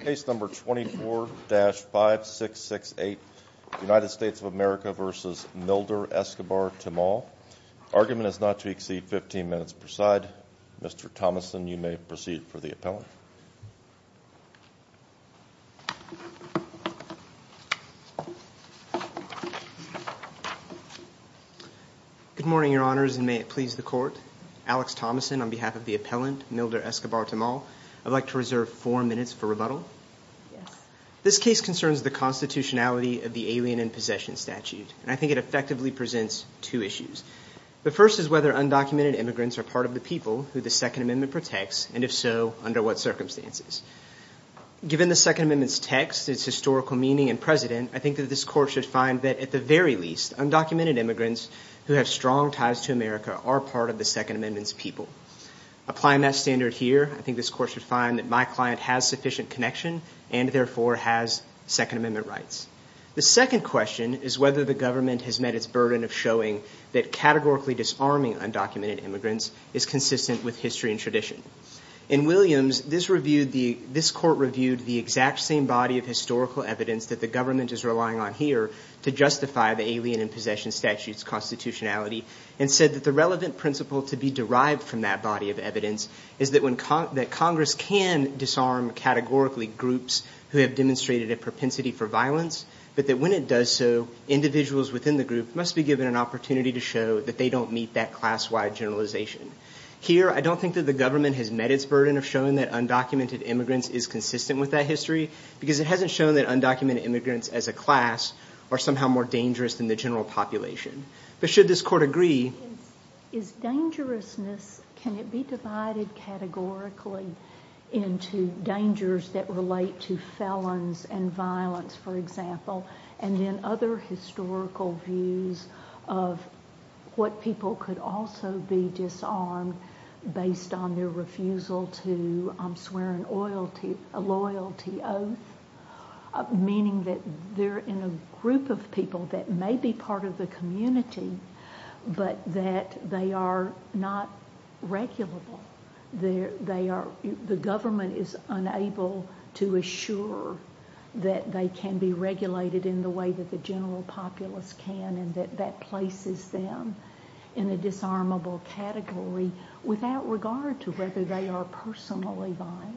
Case number 24-5668, United States of America v. Milder EscobarTemal. Argument is not to exceed 15 minutes per side. Mr. Thomason, you may proceed for the appellant. Good morning, Your Honors, and may it please the Court. Alex Thomason on behalf of the appellant, Milder EscobarTemal. I'd like to reserve four minutes for rebuttal. This case concerns the constitutionality of the Alien in Possession Statute, and I think it effectively presents two issues. The first is whether undocumented immigrants are part of the people who the Second Amendment protects, and if so, under what circumstances. Given the Second Amendment's text, its historical meaning, and precedent, I think that this Court should find that, at the very least, undocumented immigrants who have strong ties to America are part of the Second Amendment's people. Applying that standard here, I think this Court should find that my client has sufficient connection, and therefore has Second Amendment rights. The second question is whether the government has met its burden of showing that categorically disarming undocumented immigrants is consistent with history and tradition. In Williams, this Court reviewed the exact same body of historical evidence that the government is relying on here to justify the Alien in Possession Statute's constitutionality, and said that the relevant principle to be derived from that body of evidence is that Congress can disarm categorically groups who have demonstrated a propensity for violence, but that when it does so, individuals within the group must be given an opportunity to show that they don't meet that class-wide generalization. Here, I don't think that the government has met its burden of showing that undocumented immigrants is consistent with that history, because it hasn't shown that undocumented immigrants as a class are somehow more dangerous than the general population. But should this Court agree? Is dangerousness, can it be divided categorically into dangers that relate to felons and violence, for example, and then other historical views of what people could also be disarmed based on their refusal to swear a loyalty oath? Meaning that they're in a group of people that may be part of the community, but that they are not regulable. The government is unable to assure that they can be regulated in the way that the general populace can, and that that places them in a disarmable category without regard to whether they are personally violent.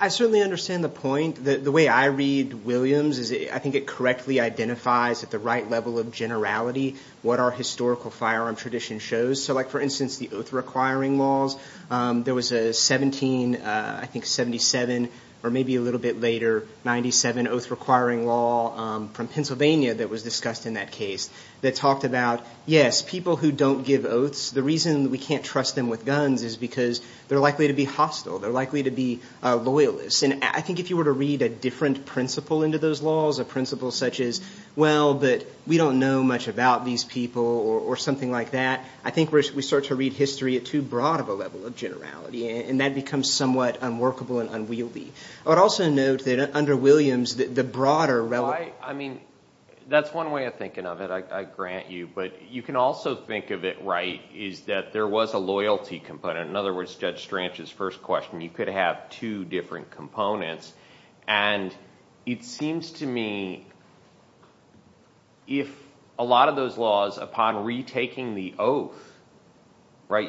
I certainly understand the point. The way I read Williams is I think it correctly identifies at the right level of generality what our historical firearm tradition shows. So like, for instance, the oath-requiring laws, there was a 17, I think 77, or maybe a little bit later, 97 oath-requiring law from Pennsylvania that was discussed in that case that talked about, yes, people who don't give oaths, the reason we can't trust them with guns is because they're likely to be hostile. They're likely to be loyalists. And I think if you were to read a different principle into those laws, a principle such as, well, but we don't know much about these people or something like that, I think we start to read history at too broad of a level of generality, and that becomes somewhat unworkable and unwieldy. I would also note that under Williams, the broader relevant – I mean, that's one way of thinking of it, I grant you. But you can also think of it right is that there was a loyalty component. In other words, Judge Stranch's first question, you could have two different components. And it seems to me if a lot of those laws, upon retaking the oath,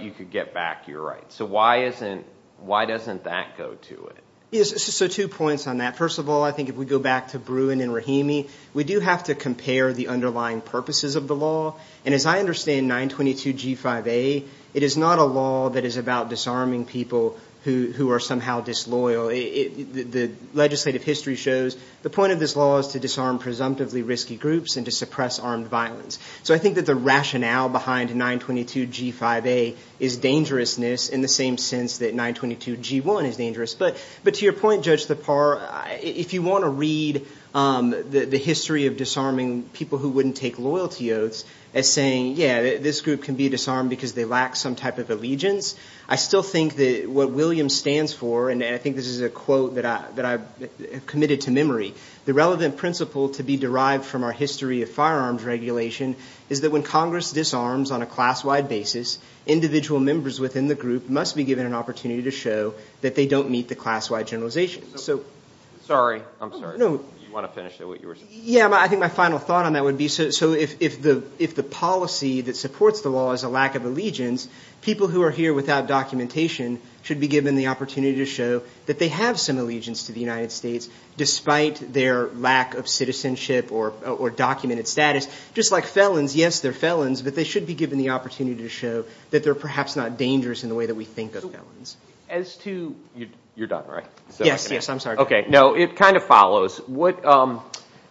you could get back your rights. So why doesn't that go to it? Yes, so two points on that. First of all, I think if we go back to Bruin and Rahimi, we do have to compare the underlying purposes of the law. And as I understand 922G5A, it is not a law that is about disarming people who are somehow disloyal. The legislative history shows the point of this law is to disarm presumptively risky groups and to suppress armed violence. So I think that the rationale behind 922G5A is dangerousness in the same sense that 922G1 is dangerous. But to your point, Judge Thapar, if you want to read the history of disarming people who wouldn't take loyalty oaths, as saying, yeah, this group can be disarmed because they lack some type of allegiance, I still think that what Williams stands for, and I think this is a quote that I've committed to memory, the relevant principle to be derived from our history of firearms regulation is that when Congress disarms on a class-wide basis, individual members within the group must be given an opportunity to show that they don't meet the class-wide generalization. Sorry, I'm sorry. You want to finish what you were saying? Yeah, I think my final thought on that would be, so if the policy that supports the law is a lack of allegiance, people who are here without documentation should be given the opportunity to show that they have some allegiance to the United States, despite their lack of citizenship or documented status. Just like felons, yes, they're felons, but they should be given the opportunity to show that they're perhaps not dangerous in the way that we think of felons. As to – you're done, right? Yes, yes, I'm sorry. Okay, no, it kind of follows.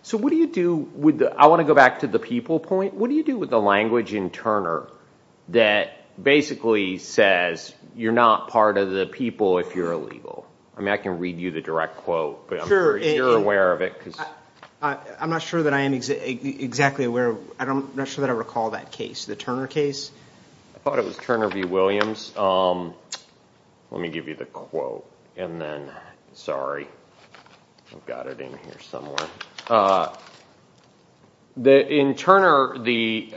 So what do you do – I want to go back to the people point. What do you do with the language in Turner that basically says you're not part of the people if you're illegal? I mean, I can read you the direct quote, but I'm not sure if you're aware of it. I'm not sure that I am exactly aware of – I'm not sure that I recall that case, the Turner case. I thought it was Turner v. Williams. Let me give you the quote, and then – sorry, I've got it in here somewhere. In Turner, the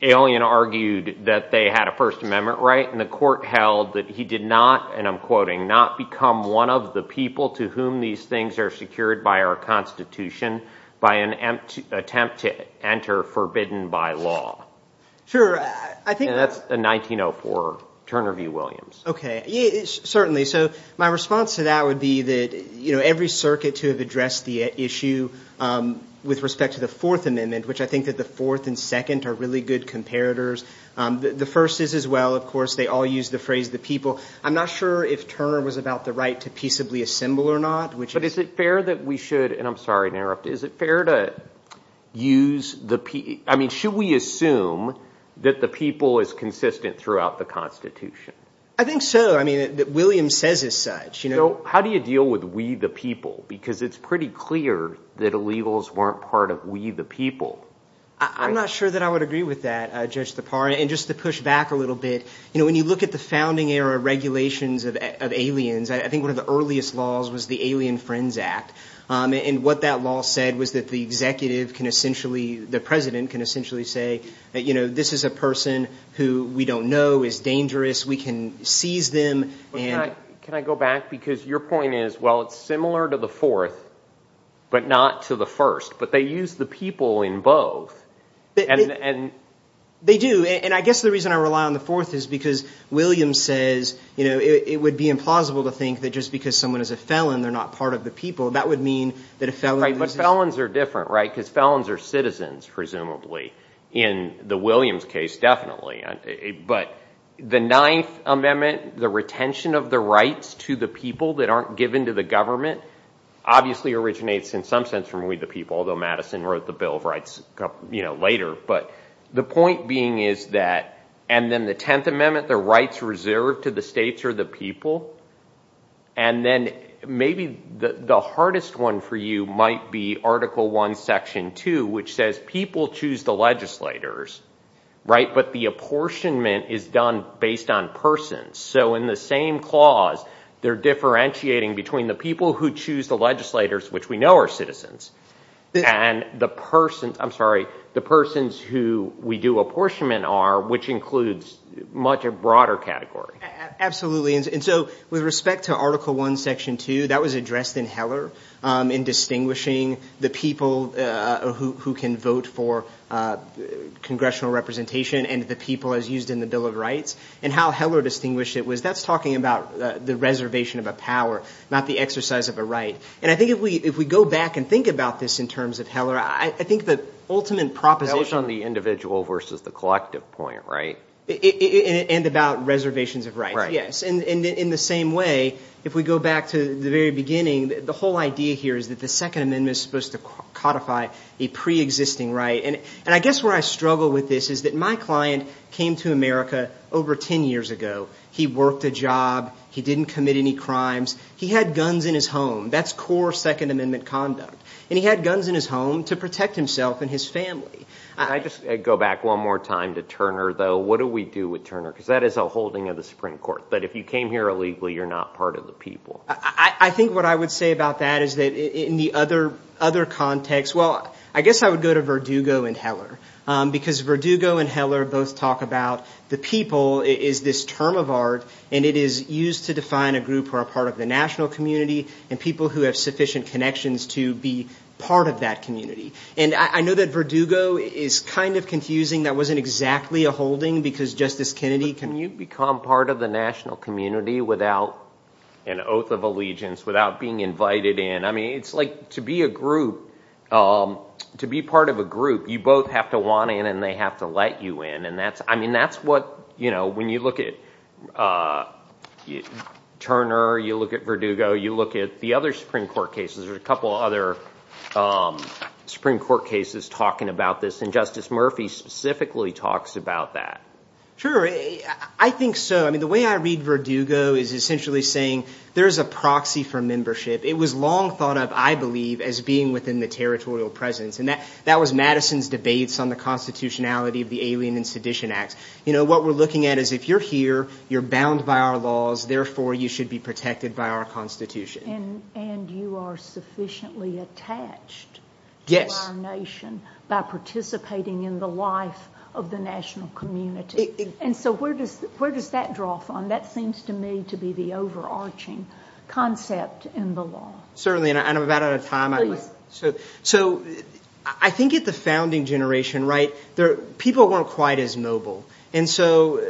alien argued that they had a First Amendment right, and the court held that he did not, and I'm quoting, not become one of the people to whom these things are secured by our Constitution by an attempt to enter forbidden by law. Sure, I think – And that's a 1904 Turner v. Williams. Okay, certainly. So my response to that would be that every circuit to have addressed the issue with respect to the Fourth Amendment, which I think that the Fourth and Second are really good comparators. The First is as well. Of course, they all use the phrase the people. I'm not sure if Turner was about the right to peaceably assemble or not, which is – But is it fair that we should – and I'm sorry to interrupt. Is it fair to use the – I mean should we assume that the people is consistent throughout the Constitution? I think so. I mean Williams says as such. So how do you deal with we the people? Because it's pretty clear that illegals weren't part of we the people. I'm not sure that I would agree with that, Judge Tappara. And just to push back a little bit, when you look at the founding era regulations of aliens, I think one of the earliest laws was the Alien Friends Act. And what that law said was that the executive can essentially – the president can essentially say, this is a person who we don't know is dangerous. We can seize them. Can I go back? Because your point is, well, it's similar to the Fourth, but not to the First. But they use the people in both. They do. And I guess the reason I rely on the Fourth is because Williams says, you know, it would be implausible to think that just because someone is a felon they're not part of the people. That would mean that a felon loses – But felons are different, right? Because felons are citizens, presumably, in the Williams case definitely. But the Ninth Amendment, the retention of the rights to the people that aren't given to the government, obviously originates in some sense from we the people, although Madison wrote the Bill of Rights later. But the point being is that – and then the Tenth Amendment, the rights reserved to the states or the people. And then maybe the hardest one for you might be Article I, Section 2, which says people choose the legislators, right, but the apportionment is done based on persons. So in the same clause, they're differentiating between the people who choose the legislators, which we know are citizens, and the persons – I'm sorry – the persons who we do apportionment are, which includes much a broader category. Absolutely. And so with respect to Article I, Section 2, that was addressed in Heller in distinguishing the people who can vote for congressional representation and the people as used in the Bill of Rights. And how Heller distinguished it was that's talking about the reservation of a power, not the exercise of a right. And I think if we go back and think about this in terms of Heller, I think the ultimate proposition – That was on the individual versus the collective point, right? And about reservations of rights, yes. And in the same way, if we go back to the very beginning, the whole idea here is that the Second Amendment is supposed to codify a preexisting right. And I guess where I struggle with this is that my client came to America over ten years ago. He worked a job. He didn't commit any crimes. He had guns in his home. That's core Second Amendment conduct. And he had guns in his home to protect himself and his family. Can I just go back one more time to Turner, though? What do we do with Turner? Because that is a holding of the Supreme Court. But if you came here illegally, you're not part of the people. I think what I would say about that is that in the other context – well, I guess I would go to Verdugo and Heller, because Verdugo and Heller both talk about the people is this term of art, and it is used to define a group who are part of the national community and people who have sufficient connections to be part of that community. And I know that Verdugo is kind of confusing. That wasn't exactly a holding because Justice Kennedy can – Can you become part of the national community without an oath of allegiance, without being invited in? I mean it's like to be a group, to be part of a group, you both have to want in and they have to let you in. I mean that's what – when you look at Turner, you look at Verdugo, you look at the other Supreme Court cases. There are a couple of other Supreme Court cases talking about this, and Justice Murphy specifically talks about that. Sure. I think so. I mean the way I read Verdugo is essentially saying there is a proxy for membership. It was long thought of, I believe, as being within the territorial presence, and that was Madison's debates on the constitutionality of the Alien and Sedition Acts. You know, what we're looking at is if you're here, you're bound by our laws, therefore you should be protected by our constitution. And you are sufficiently attached to our nation by participating in the life of the national community. And so where does that draw from? That seems to me to be the overarching concept in the law. Certainly, and I'm about out of time. So I think at the founding generation, right, people weren't quite as mobile. And so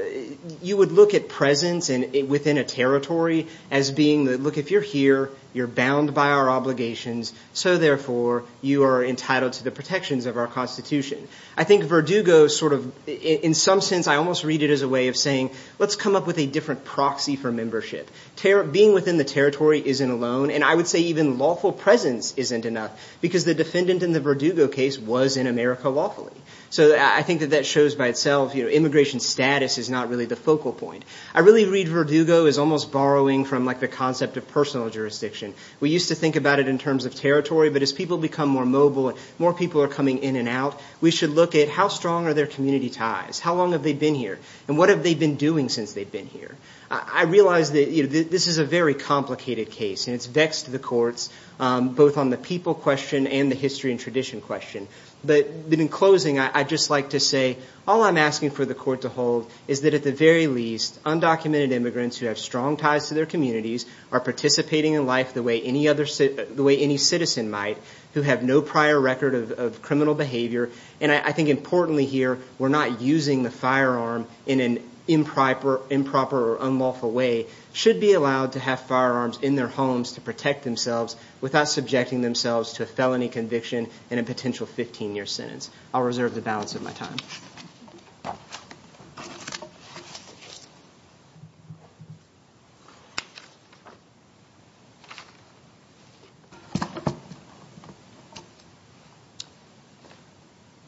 you would look at presence within a territory as being, look, if you're here, you're bound by our obligations, so therefore you are entitled to the protections of our constitution. I think Verdugo sort of – in some sense I almost read it as a way of saying, let's come up with a different proxy for membership. Being within the territory isn't alone, and I would say even lawful presence isn't enough because the defendant in the Verdugo case was in America lawfully. So I think that that shows by itself, you know, immigration status is not really the focal point. I really read Verdugo as almost borrowing from, like, the concept of personal jurisdiction. We used to think about it in terms of territory, but as people become more mobile and more people are coming in and out, we should look at how strong are their community ties, how long have they been here, and what have they been doing since they've been here. I realize that this is a very complicated case, and it's vexed the courts, both on the people question and the history and tradition question. But in closing, I'd just like to say all I'm asking for the court to hold is that at the very least, undocumented immigrants who have strong ties to their communities are participating in life the way any citizen might, who have no prior record of criminal behavior. And I think importantly here, we're not using the firearm in an improper or unlawful way, should be allowed to have firearms in their homes to protect themselves without subjecting themselves to a felony conviction and a potential 15-year sentence. I'll reserve the balance of my time.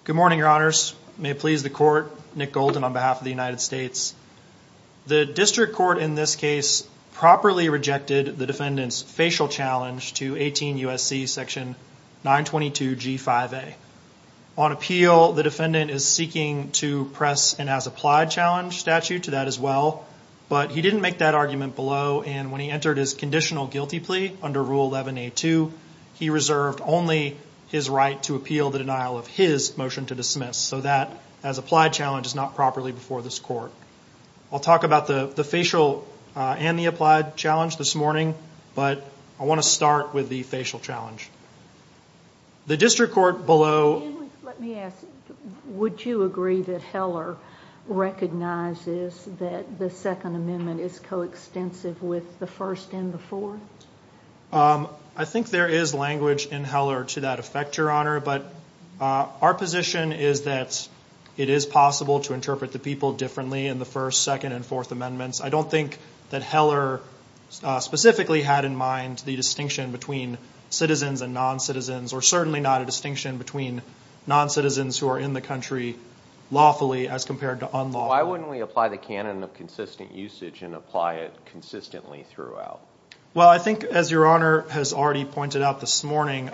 Good morning, Your Honors. May it please the court. Nick Golden on behalf of the United States. The district court in this case properly rejected the defendant's facial challenge to 18 U.S.C. section 922 G5A. On appeal, the defendant is seeking to press an as-applied challenge statute to that as well, but he didn't make that argument below, and when he entered his conditional guilty plea under Rule 11A2, he reserved only his right to appeal the denial of his motion to dismiss. So that as-applied challenge is not properly before this court. I'll talk about the facial and the applied challenge this morning, but I want to start with the facial challenge. The district court below- Let me ask, would you agree that Heller recognizes that the Second Amendment is coextensive with the First and the Fourth? I think there is language in Heller to that effect, Your Honor, but our position is that it is possible to interpret the people differently in the First, Second, and Fourth Amendments. I don't think that Heller specifically had in mind the distinction between citizens and noncitizens, or certainly not a distinction between noncitizens who are in the country lawfully as compared to unlawfully. Why wouldn't we apply the canon of consistent usage and apply it consistently throughout? Well, I think as Your Honor has already pointed out this morning,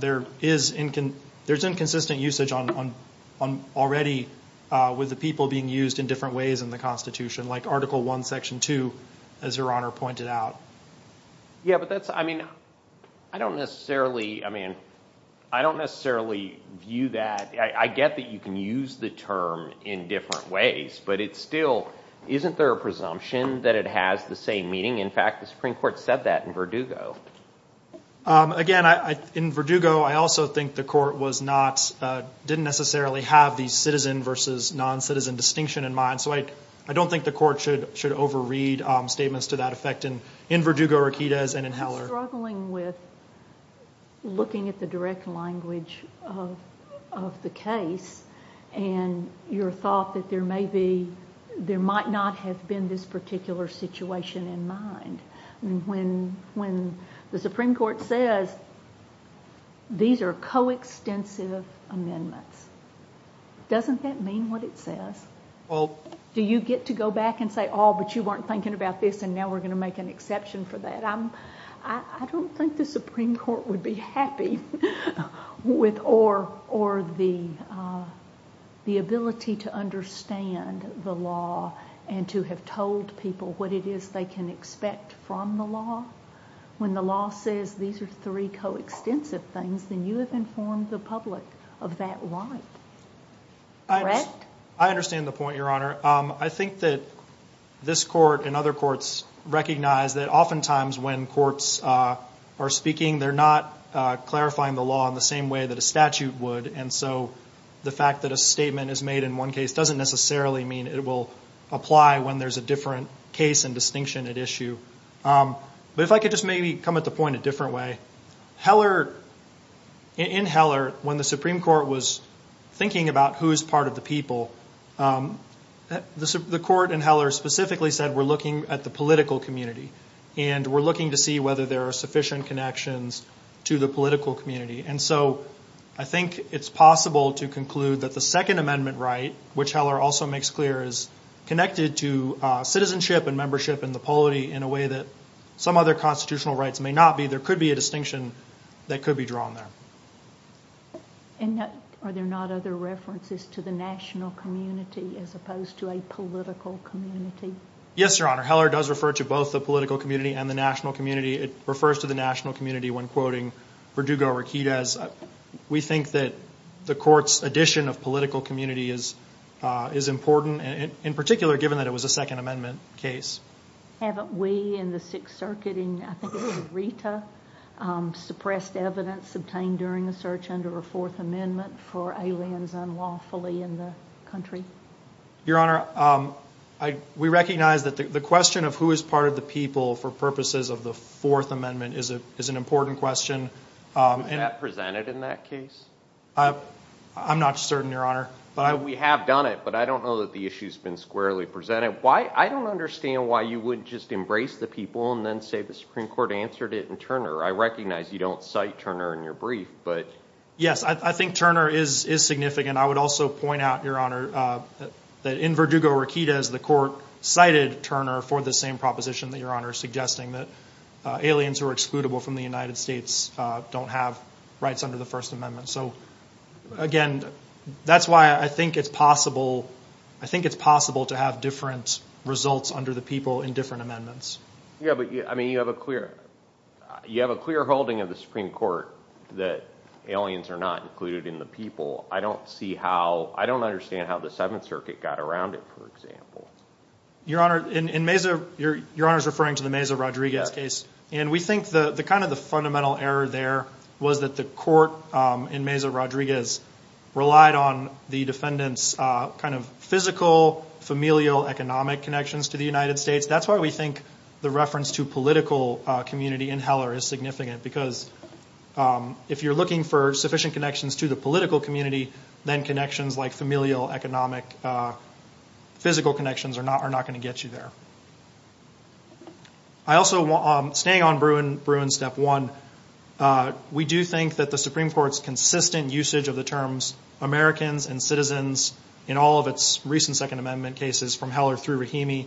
there is inconsistent usage already with the people being used in different ways in the Constitution, like Article I, Section 2, as Your Honor pointed out. Yeah, but that's-I mean, I don't necessarily-I mean, I don't necessarily view that- I get that you can use the term in different ways, but it still-isn't there a presumption that it has the same meaning? In fact, the Supreme Court said that in Verdugo. Again, in Verdugo, I also think the court was not-didn't necessarily have the citizen versus noncitizen distinction in mind, so I don't think the court should overread statements to that effect in Verdugo, Riquidez, and in Heller. I'm struggling with looking at the direct language of the case, and your thought that there may be-there might not have been this particular situation in mind. When the Supreme Court says these are coextensive amendments, doesn't that mean what it says? Well- Do you get to go back and say, oh, but you weren't thinking about this, and now we're going to make an exception for that? I don't think the Supreme Court would be happy with-or the ability to understand the law and to have told people what it is they can expect from the law. When the law says these are three coextensive things, then you have informed the public of that right, correct? I understand the point, Your Honor. I think that this court and other courts recognize that oftentimes when courts are speaking, they're not clarifying the law in the same way that a statute would, and so the fact that a statement is made in one case doesn't necessarily mean it will apply when there's a different case and distinction at issue. But if I could just maybe come at the point a different way. In Heller, when the Supreme Court was thinking about who is part of the people, the court in Heller specifically said we're looking at the political community and we're looking to see whether there are sufficient connections to the political community. And so I think it's possible to conclude that the Second Amendment right, which Heller also makes clear, is connected to citizenship and membership in the polity in a way that some other constitutional rights may not be. There could be a distinction that could be drawn there. And are there not other references to the national community as opposed to a political community? Yes, Your Honor. Heller does refer to both the political community and the national community. It refers to the national community when quoting Verdugo-Riquidez. We think that the court's addition of political community is important, in particular given that it was a Second Amendment case. Haven't we in the Sixth Circuit, in I think it was Rita, suppressed evidence obtained during a search under a Fourth Amendment for aliens unlawfully in the country? Your Honor, we recognize that the question of who is part of the people for purposes of the Fourth Amendment is an important question. Was that presented in that case? I'm not certain, Your Honor. We have done it, but I don't know that the issue's been squarely presented. I don't understand why you wouldn't just embrace the people and then say the Supreme Court answered it in Turner. I recognize you don't cite Turner in your brief. Yes, I think Turner is significant. I would also point out, Your Honor, that in Verdugo-Riquidez, the court cited Turner for the same proposition that Your Honor is suggesting, that aliens who are excludable from the United States don't have rights under the First Amendment. Again, that's why I think it's possible to have different results under the people in different amendments. Yes, but you have a clear holding of the Supreme Court that aliens are not included in the people. I don't understand how the Seventh Circuit got around it, for example. Your Honor is referring to the Meza-Rodriguez case. We think the fundamental error there was that the court in Meza-Rodriguez relied on the defendant's physical, familial, economic connections to the United States. That's why we think the reference to political community in Heller is significant, because if you're looking for sufficient connections to the political community, then connections like familial, economic, physical connections are not going to get you there. Staying on Bruin, step one, we do think that the Supreme Court's consistent usage of the terms Americans and citizens in all of its recent Second Amendment cases from Heller through Rahimi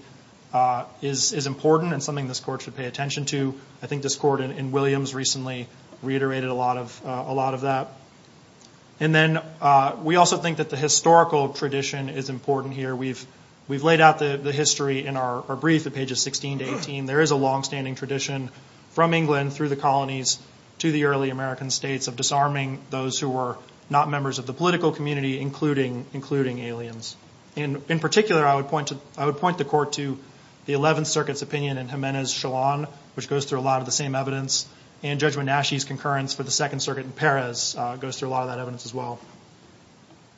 is important and something this court should pay attention to. I think this court in Williams recently reiterated a lot of that. And then we also think that the historical tradition is important here. We've laid out the history in our brief at pages 16 to 18. There is a longstanding tradition from England through the colonies to the early American states of disarming those who were not members of the political community, including aliens. In particular, I would point the court to the Eleventh Circuit's opinion in Jimenez-Chalon, which goes through a lot of the same evidence, and Judge Wenashe's concurrence for the Second Circuit in Perez goes through a lot of that evidence as well.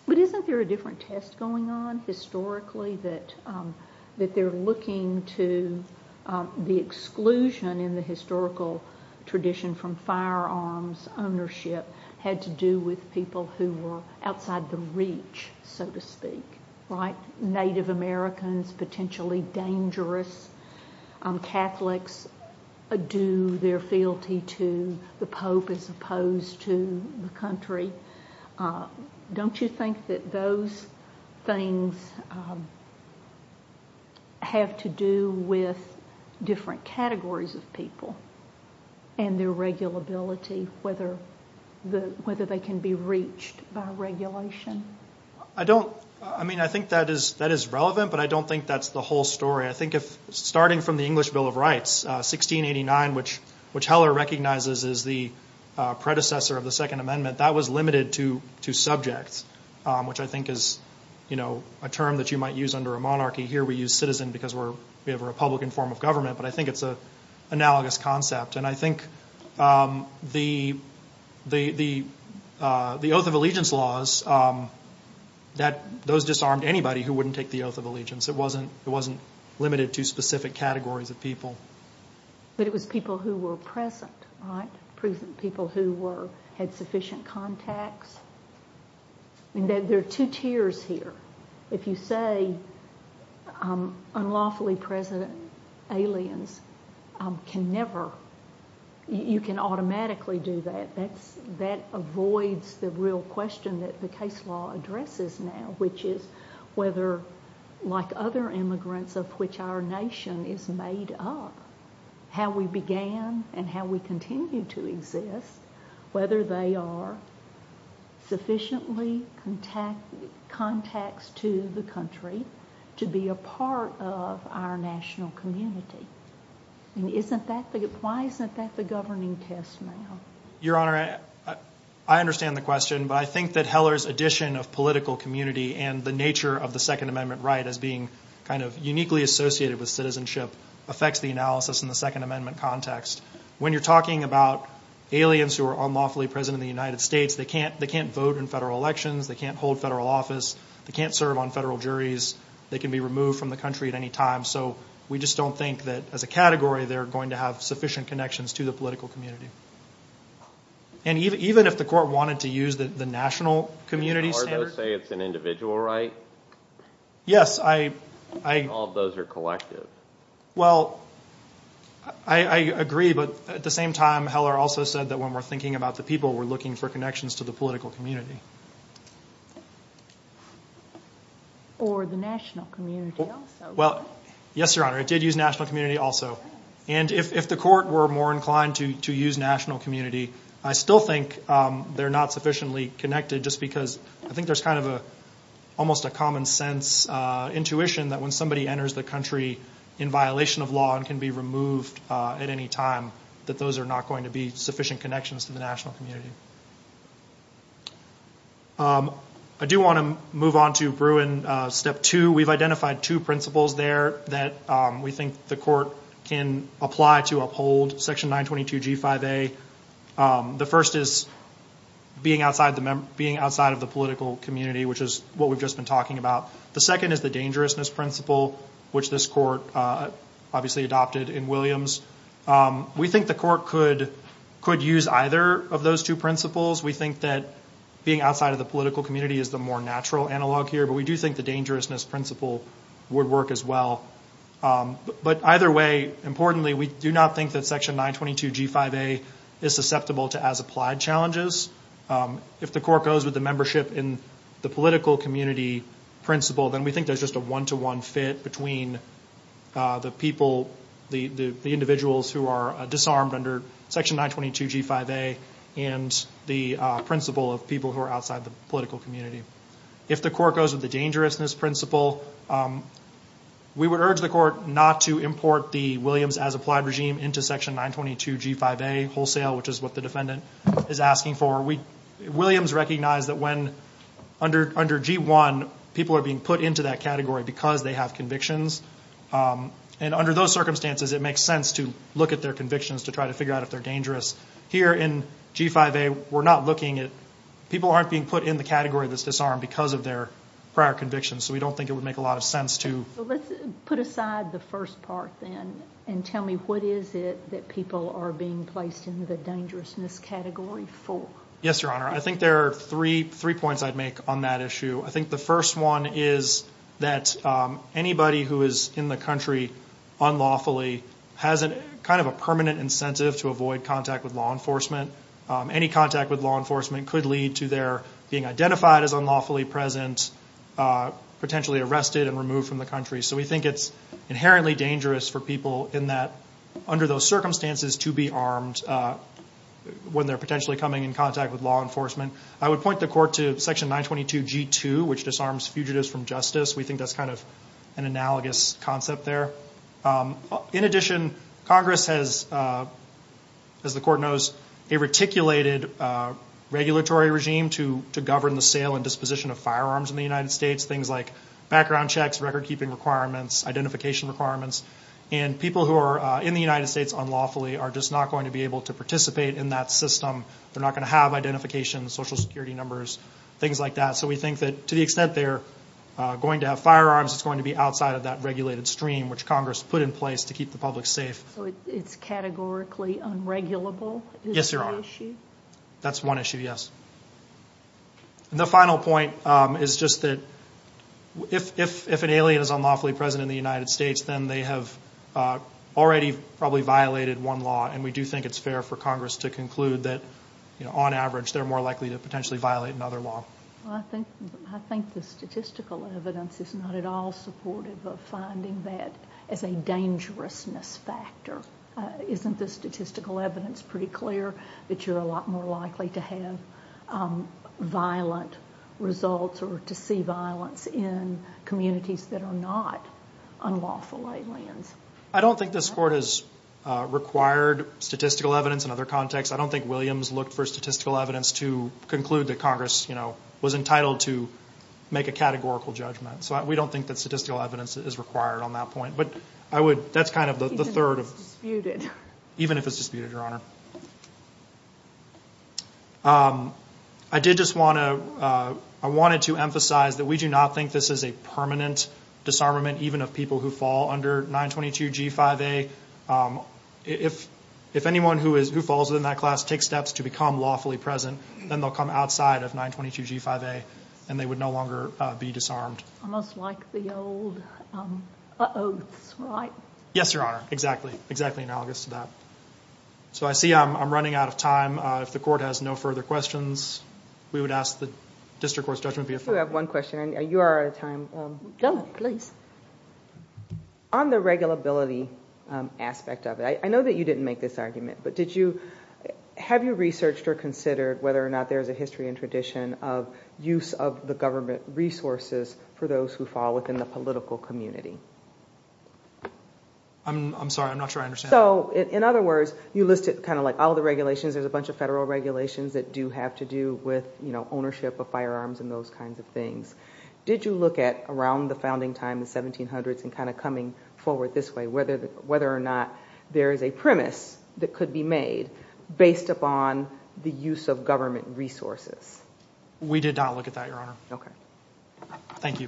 But isn't there a different test going on historically that they're looking to the exclusion in the historical tradition from firearms ownership had to do with people who were outside the reach, so to speak, right? Native Americans, potentially dangerous Catholics, do their fealty to the Pope as opposed to the country. Don't you think that those things have to do with different categories of people and their regulability, whether they can be reached by regulation? I think that is relevant, but I don't think that's the whole story. I think starting from the English Bill of Rights, 1689, which Heller recognizes as the predecessor of the Second Amendment, that was limited to subjects, which I think is a term that you might use under a monarchy. Here we use citizen because we have a Republican form of government, but I think it's an analogous concept. I think the Oath of Allegiance laws, those disarmed anybody who wouldn't take the Oath of Allegiance. It wasn't limited to specific categories of people. But it was people who were present, right? People who had sufficient contacts. There are two tiers here. If you say unlawfully present aliens can never, you can automatically do that. That avoids the real question that the case law addresses now, which is whether, like other immigrants of which our nation is made up, how we began and how we continue to exist, whether they are sufficiently contacts to the country to be a part of our national community. Why isn't that the governing test now? Your Honor, I understand the question, but I think that Heller's addition of political community and the nature of the Second Amendment right as being uniquely associated with citizenship affects the analysis in the Second Amendment context. When you're talking about aliens who are unlawfully present in the United States, they can't vote in federal elections. They can't hold federal office. They can't serve on federal juries. They can be removed from the country at any time. So we just don't think that, as a category, they're going to have sufficient connections to the political community. And even if the court wanted to use the national community standard. Didn't Ardo say it's an individual right? Yes. All of those are collective. Well, I agree, but at the same time, Heller also said that when we're thinking about the people, we're looking for connections to the political community. Or the national community also. Well, yes, Your Honor, it did use national community also. And if the court were more inclined to use national community, I still think they're not sufficiently connected, just because I think there's kind of almost a common sense intuition that when somebody enters the country in violation of law and can be removed at any time, that those are not going to be sufficient connections to the national community. I do want to move on to Bruin Step 2. We've identified two principles there that we think the court can apply to uphold. Section 922G5A. The first is being outside of the political community, which is what we've just been talking about. The second is the dangerousness principle, which this court obviously adopted in Williams. We think the court could use either of those two principles. We think that being outside of the political community is the more natural analog here. But we do think the dangerousness principle would work as well. But either way, importantly, we do not think that Section 922G5A is susceptible to as-applied challenges. If the court goes with the membership in the political community principle, then we think there's just a one-to-one fit between the people, the individuals who are disarmed under Section 922G5A and the principle of people who are outside the political community. If the court goes with the dangerousness principle, we would urge the court not to import the Williams as-applied regime into Section 922G5A wholesale, which is what the defendant is asking for. Williams recognized that under G1, people are being put into that category because they have convictions. And under those circumstances, it makes sense to look at their convictions to try to figure out if they're dangerous. Here in G5A, we're not looking at people People aren't being put in the category that's disarmed because of their prior convictions, so we don't think it would make a lot of sense to Let's put aside the first part then and tell me what is it that people are being placed in the dangerousness category for. Yes, Your Honor. I think there are three points I'd make on that issue. I think the first one is that anybody who is in the country unlawfully has kind of a permanent incentive to avoid contact with law enforcement. Any contact with law enforcement could lead to their being identified as unlawfully present, potentially arrested and removed from the country. So we think it's inherently dangerous for people in that under those circumstances to be armed when they're potentially coming in contact with law enforcement. I would point the court to Section 922G2, which disarms fugitives from justice. We think that's kind of an analogous concept there. In addition, Congress has, as the court knows, a reticulated regulatory regime to govern the sale and disposition of firearms in the United States. Things like background checks, record-keeping requirements, identification requirements. And people who are in the United States unlawfully are just not going to be able to participate in that system. They're not going to have identification, social security numbers, things like that. So we think that to the extent they're going to have firearms, it's going to be outside of that regulated stream which Congress put in place to keep the public safe. So it's categorically unregulable is the issue? That's one issue, yes. And the final point is just that if an alien is unlawfully present in the United States, then they have already probably violated one law. And we do think it's fair for Congress to conclude that, on average, they're more likely to potentially violate another law. I think the statistical evidence is not at all supportive of finding that as a dangerousness factor. Isn't the statistical evidence pretty clear that you're a lot more likely to have violent results or to see violence in communities that are not unlawful aliens? I don't think this Court has required statistical evidence in other contexts. I don't think Williams looked for statistical evidence to conclude that Congress, you know, was entitled to make a categorical judgment. So we don't think that statistical evidence is required on that point. But I would – that's kind of the third of – Even if it's disputed. Even if it's disputed, Your Honor. I did just want to – I wanted to emphasize that we do not think this is a permanent disarmament, even of people who fall under 922G5A. If anyone who falls within that class takes steps to become lawfully present, then they'll come outside of 922G5A, and they would no longer be disarmed. Almost like the old oaths, right? Yes, Your Honor. Exactly. Exactly analogous to that. So I see I'm running out of time. If the Court has no further questions, we would ask the District Court's judgment be affirmed. I do have one question, and you are out of time. Go ahead, please. On the regulability aspect of it, I know that you didn't make this argument, but did you – have you researched or considered whether or not there is a history and tradition of use of the government resources for those who fall within the political community? I'm sorry. I'm not sure I understand. So, in other words, you listed kind of like all the regulations. There's a bunch of federal regulations that do have to do with, you know, ownership of firearms and those kinds of things. Did you look at around the founding time, the 1700s, and kind of coming forward this way, whether or not there is a premise that could be made based upon the use of government resources? We did not look at that, Your Honor. Okay. Thank you.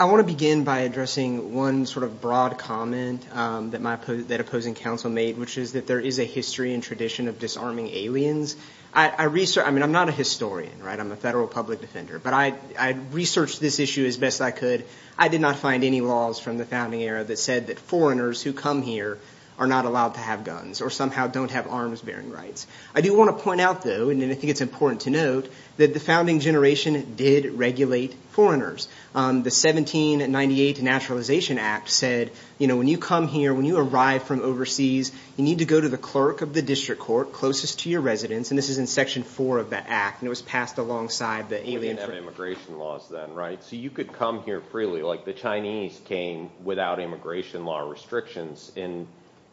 I want to begin by addressing one sort of broad comment that opposing counsel made, which is that there is a history and tradition of disarming aliens. I mean, I'm not a historian, right? I'm a federal public defender, but I researched this issue as best I could. I did not find any laws from the founding era that said that foreigners who come here are not allowed to have guns or somehow don't have arms-bearing rights. I do want to point out, though, and I think it's important to note, that the founding generation did regulate foreigners. The 1798 Naturalization Act said, you know, when you come here, when you arrive from overseas, you need to go to the clerk of the district court closest to your residence, and this is in Section 4 of the Act, and it was passed alongside the alien- You didn't have immigration laws then, right? So you could come here freely, like the Chinese came without immigration law restrictions.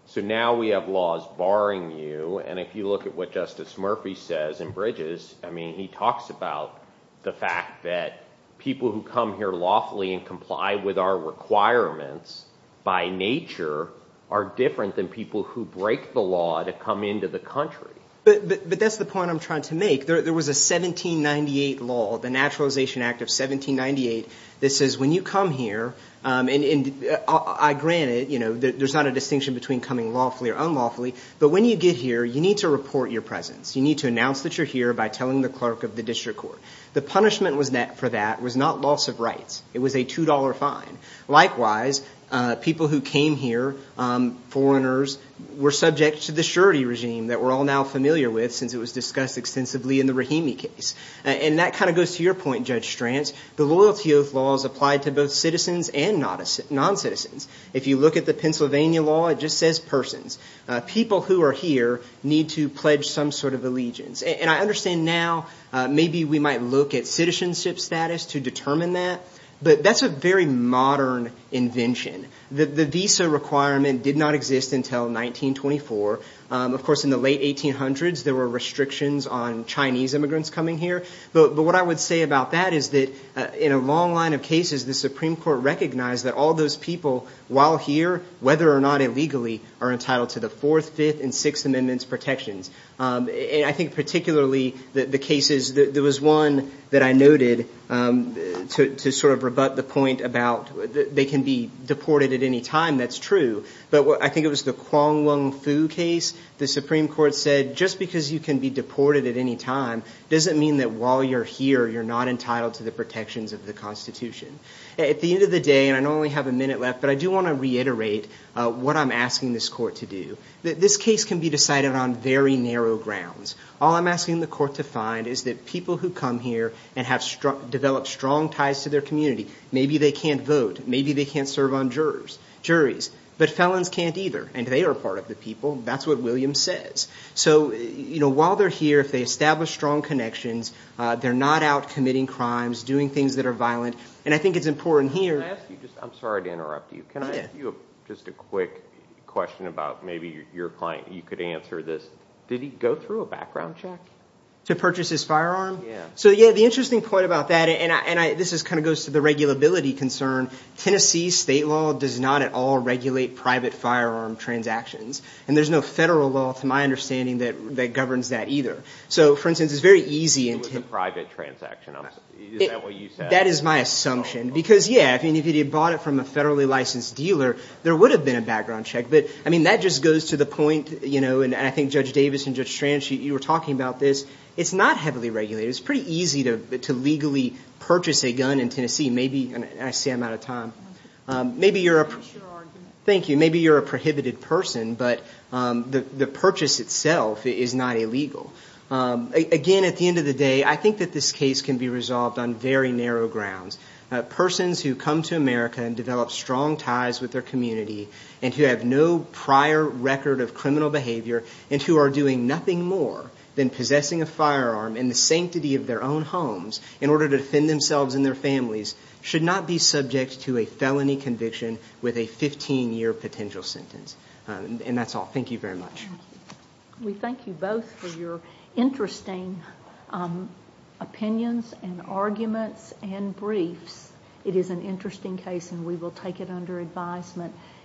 So now we have laws barring you, and if you look at what Justice Murphy says in Bridges, I mean, he talks about the fact that people who come here lawfully and comply with our requirements by nature are different than people who break the law to come into the country. But that's the point I'm trying to make. There was a 1798 law, the Naturalization Act of 1798, that says when you come here, and I grant it, you know, there's not a distinction between coming lawfully or unlawfully, but when you get here, you need to report your presence. You need to announce that you're here by telling the clerk of the district court. The punishment for that was not loss of rights. It was a $2 fine. Likewise, people who came here, foreigners, were subject to the surety regime that we're all now familiar with since it was discussed extensively in the Rahimi case, and that kind of goes to your point, Judge Stranz. The loyalty oath law is applied to both citizens and noncitizens. If you look at the Pennsylvania law, it just says persons. People who are here need to pledge some sort of allegiance, and I understand now maybe we might look at citizenship status to determine that, but that's a very modern invention. The visa requirement did not exist until 1924. Of course, in the late 1800s, there were restrictions on Chinese immigrants coming here, but what I would say about that is that in a long line of cases, the Supreme Court recognized that all those people, while here, whether or not illegally, are entitled to the Fourth, Fifth, and Sixth Amendments protections. I think particularly the cases, there was one that I noted to sort of rebut the point about they can be deported at any time. That's true, but I think it was the Kuang Lung Foo case. The Supreme Court said just because you can be deported at any time doesn't mean that while you're here you're not entitled to the protections of the Constitution. At the end of the day, and I only have a minute left, but I do want to reiterate what I'm asking this court to do. This case can be decided on very narrow grounds. All I'm asking the court to find is that people who come here and have developed strong ties to their community, maybe they can't vote, maybe they can't serve on juries, but felons can't either, and they are part of the people. That's what Williams says. While they're here, if they establish strong connections, they're not out committing crimes, doing things that are violent, and I think it's important here. I'm sorry to interrupt you. Can I ask you just a quick question about maybe your client, you could answer this. Did he go through a background check? To purchase his firearm? Yeah. The interesting point about that, and this kind of goes to the regulability concern, Tennessee state law does not at all regulate private firearm transactions, and there's no federal law to my understanding that governs that either. So, for instance, it's very easy. It was a private transaction. Is that what you said? That is my assumption. Because, yeah, if he had bought it from a federally licensed dealer, there would have been a background check. But, I mean, that just goes to the point, you know, and I think Judge Davis and Judge Strange, you were talking about this. It's not heavily regulated. It's pretty easy to legally purchase a gun in Tennessee. Maybe, and I see I'm out of time. I appreciate your argument. Thank you. I mean, maybe you're a prohibited person, but the purchase itself is not illegal. Again, at the end of the day, I think that this case can be resolved on very narrow grounds. Persons who come to America and develop strong ties with their community and who have no prior record of criminal behavior and who are doing nothing more than possessing a firearm in the sanctity of their own homes in order to defend themselves and their families should not be subject to a felony conviction with a 15-year potential sentence. And that's all. Thank you very much. Thank you. We thank you both for your interesting opinions and arguments and briefs. It is an interesting case, and we will take it under advisement.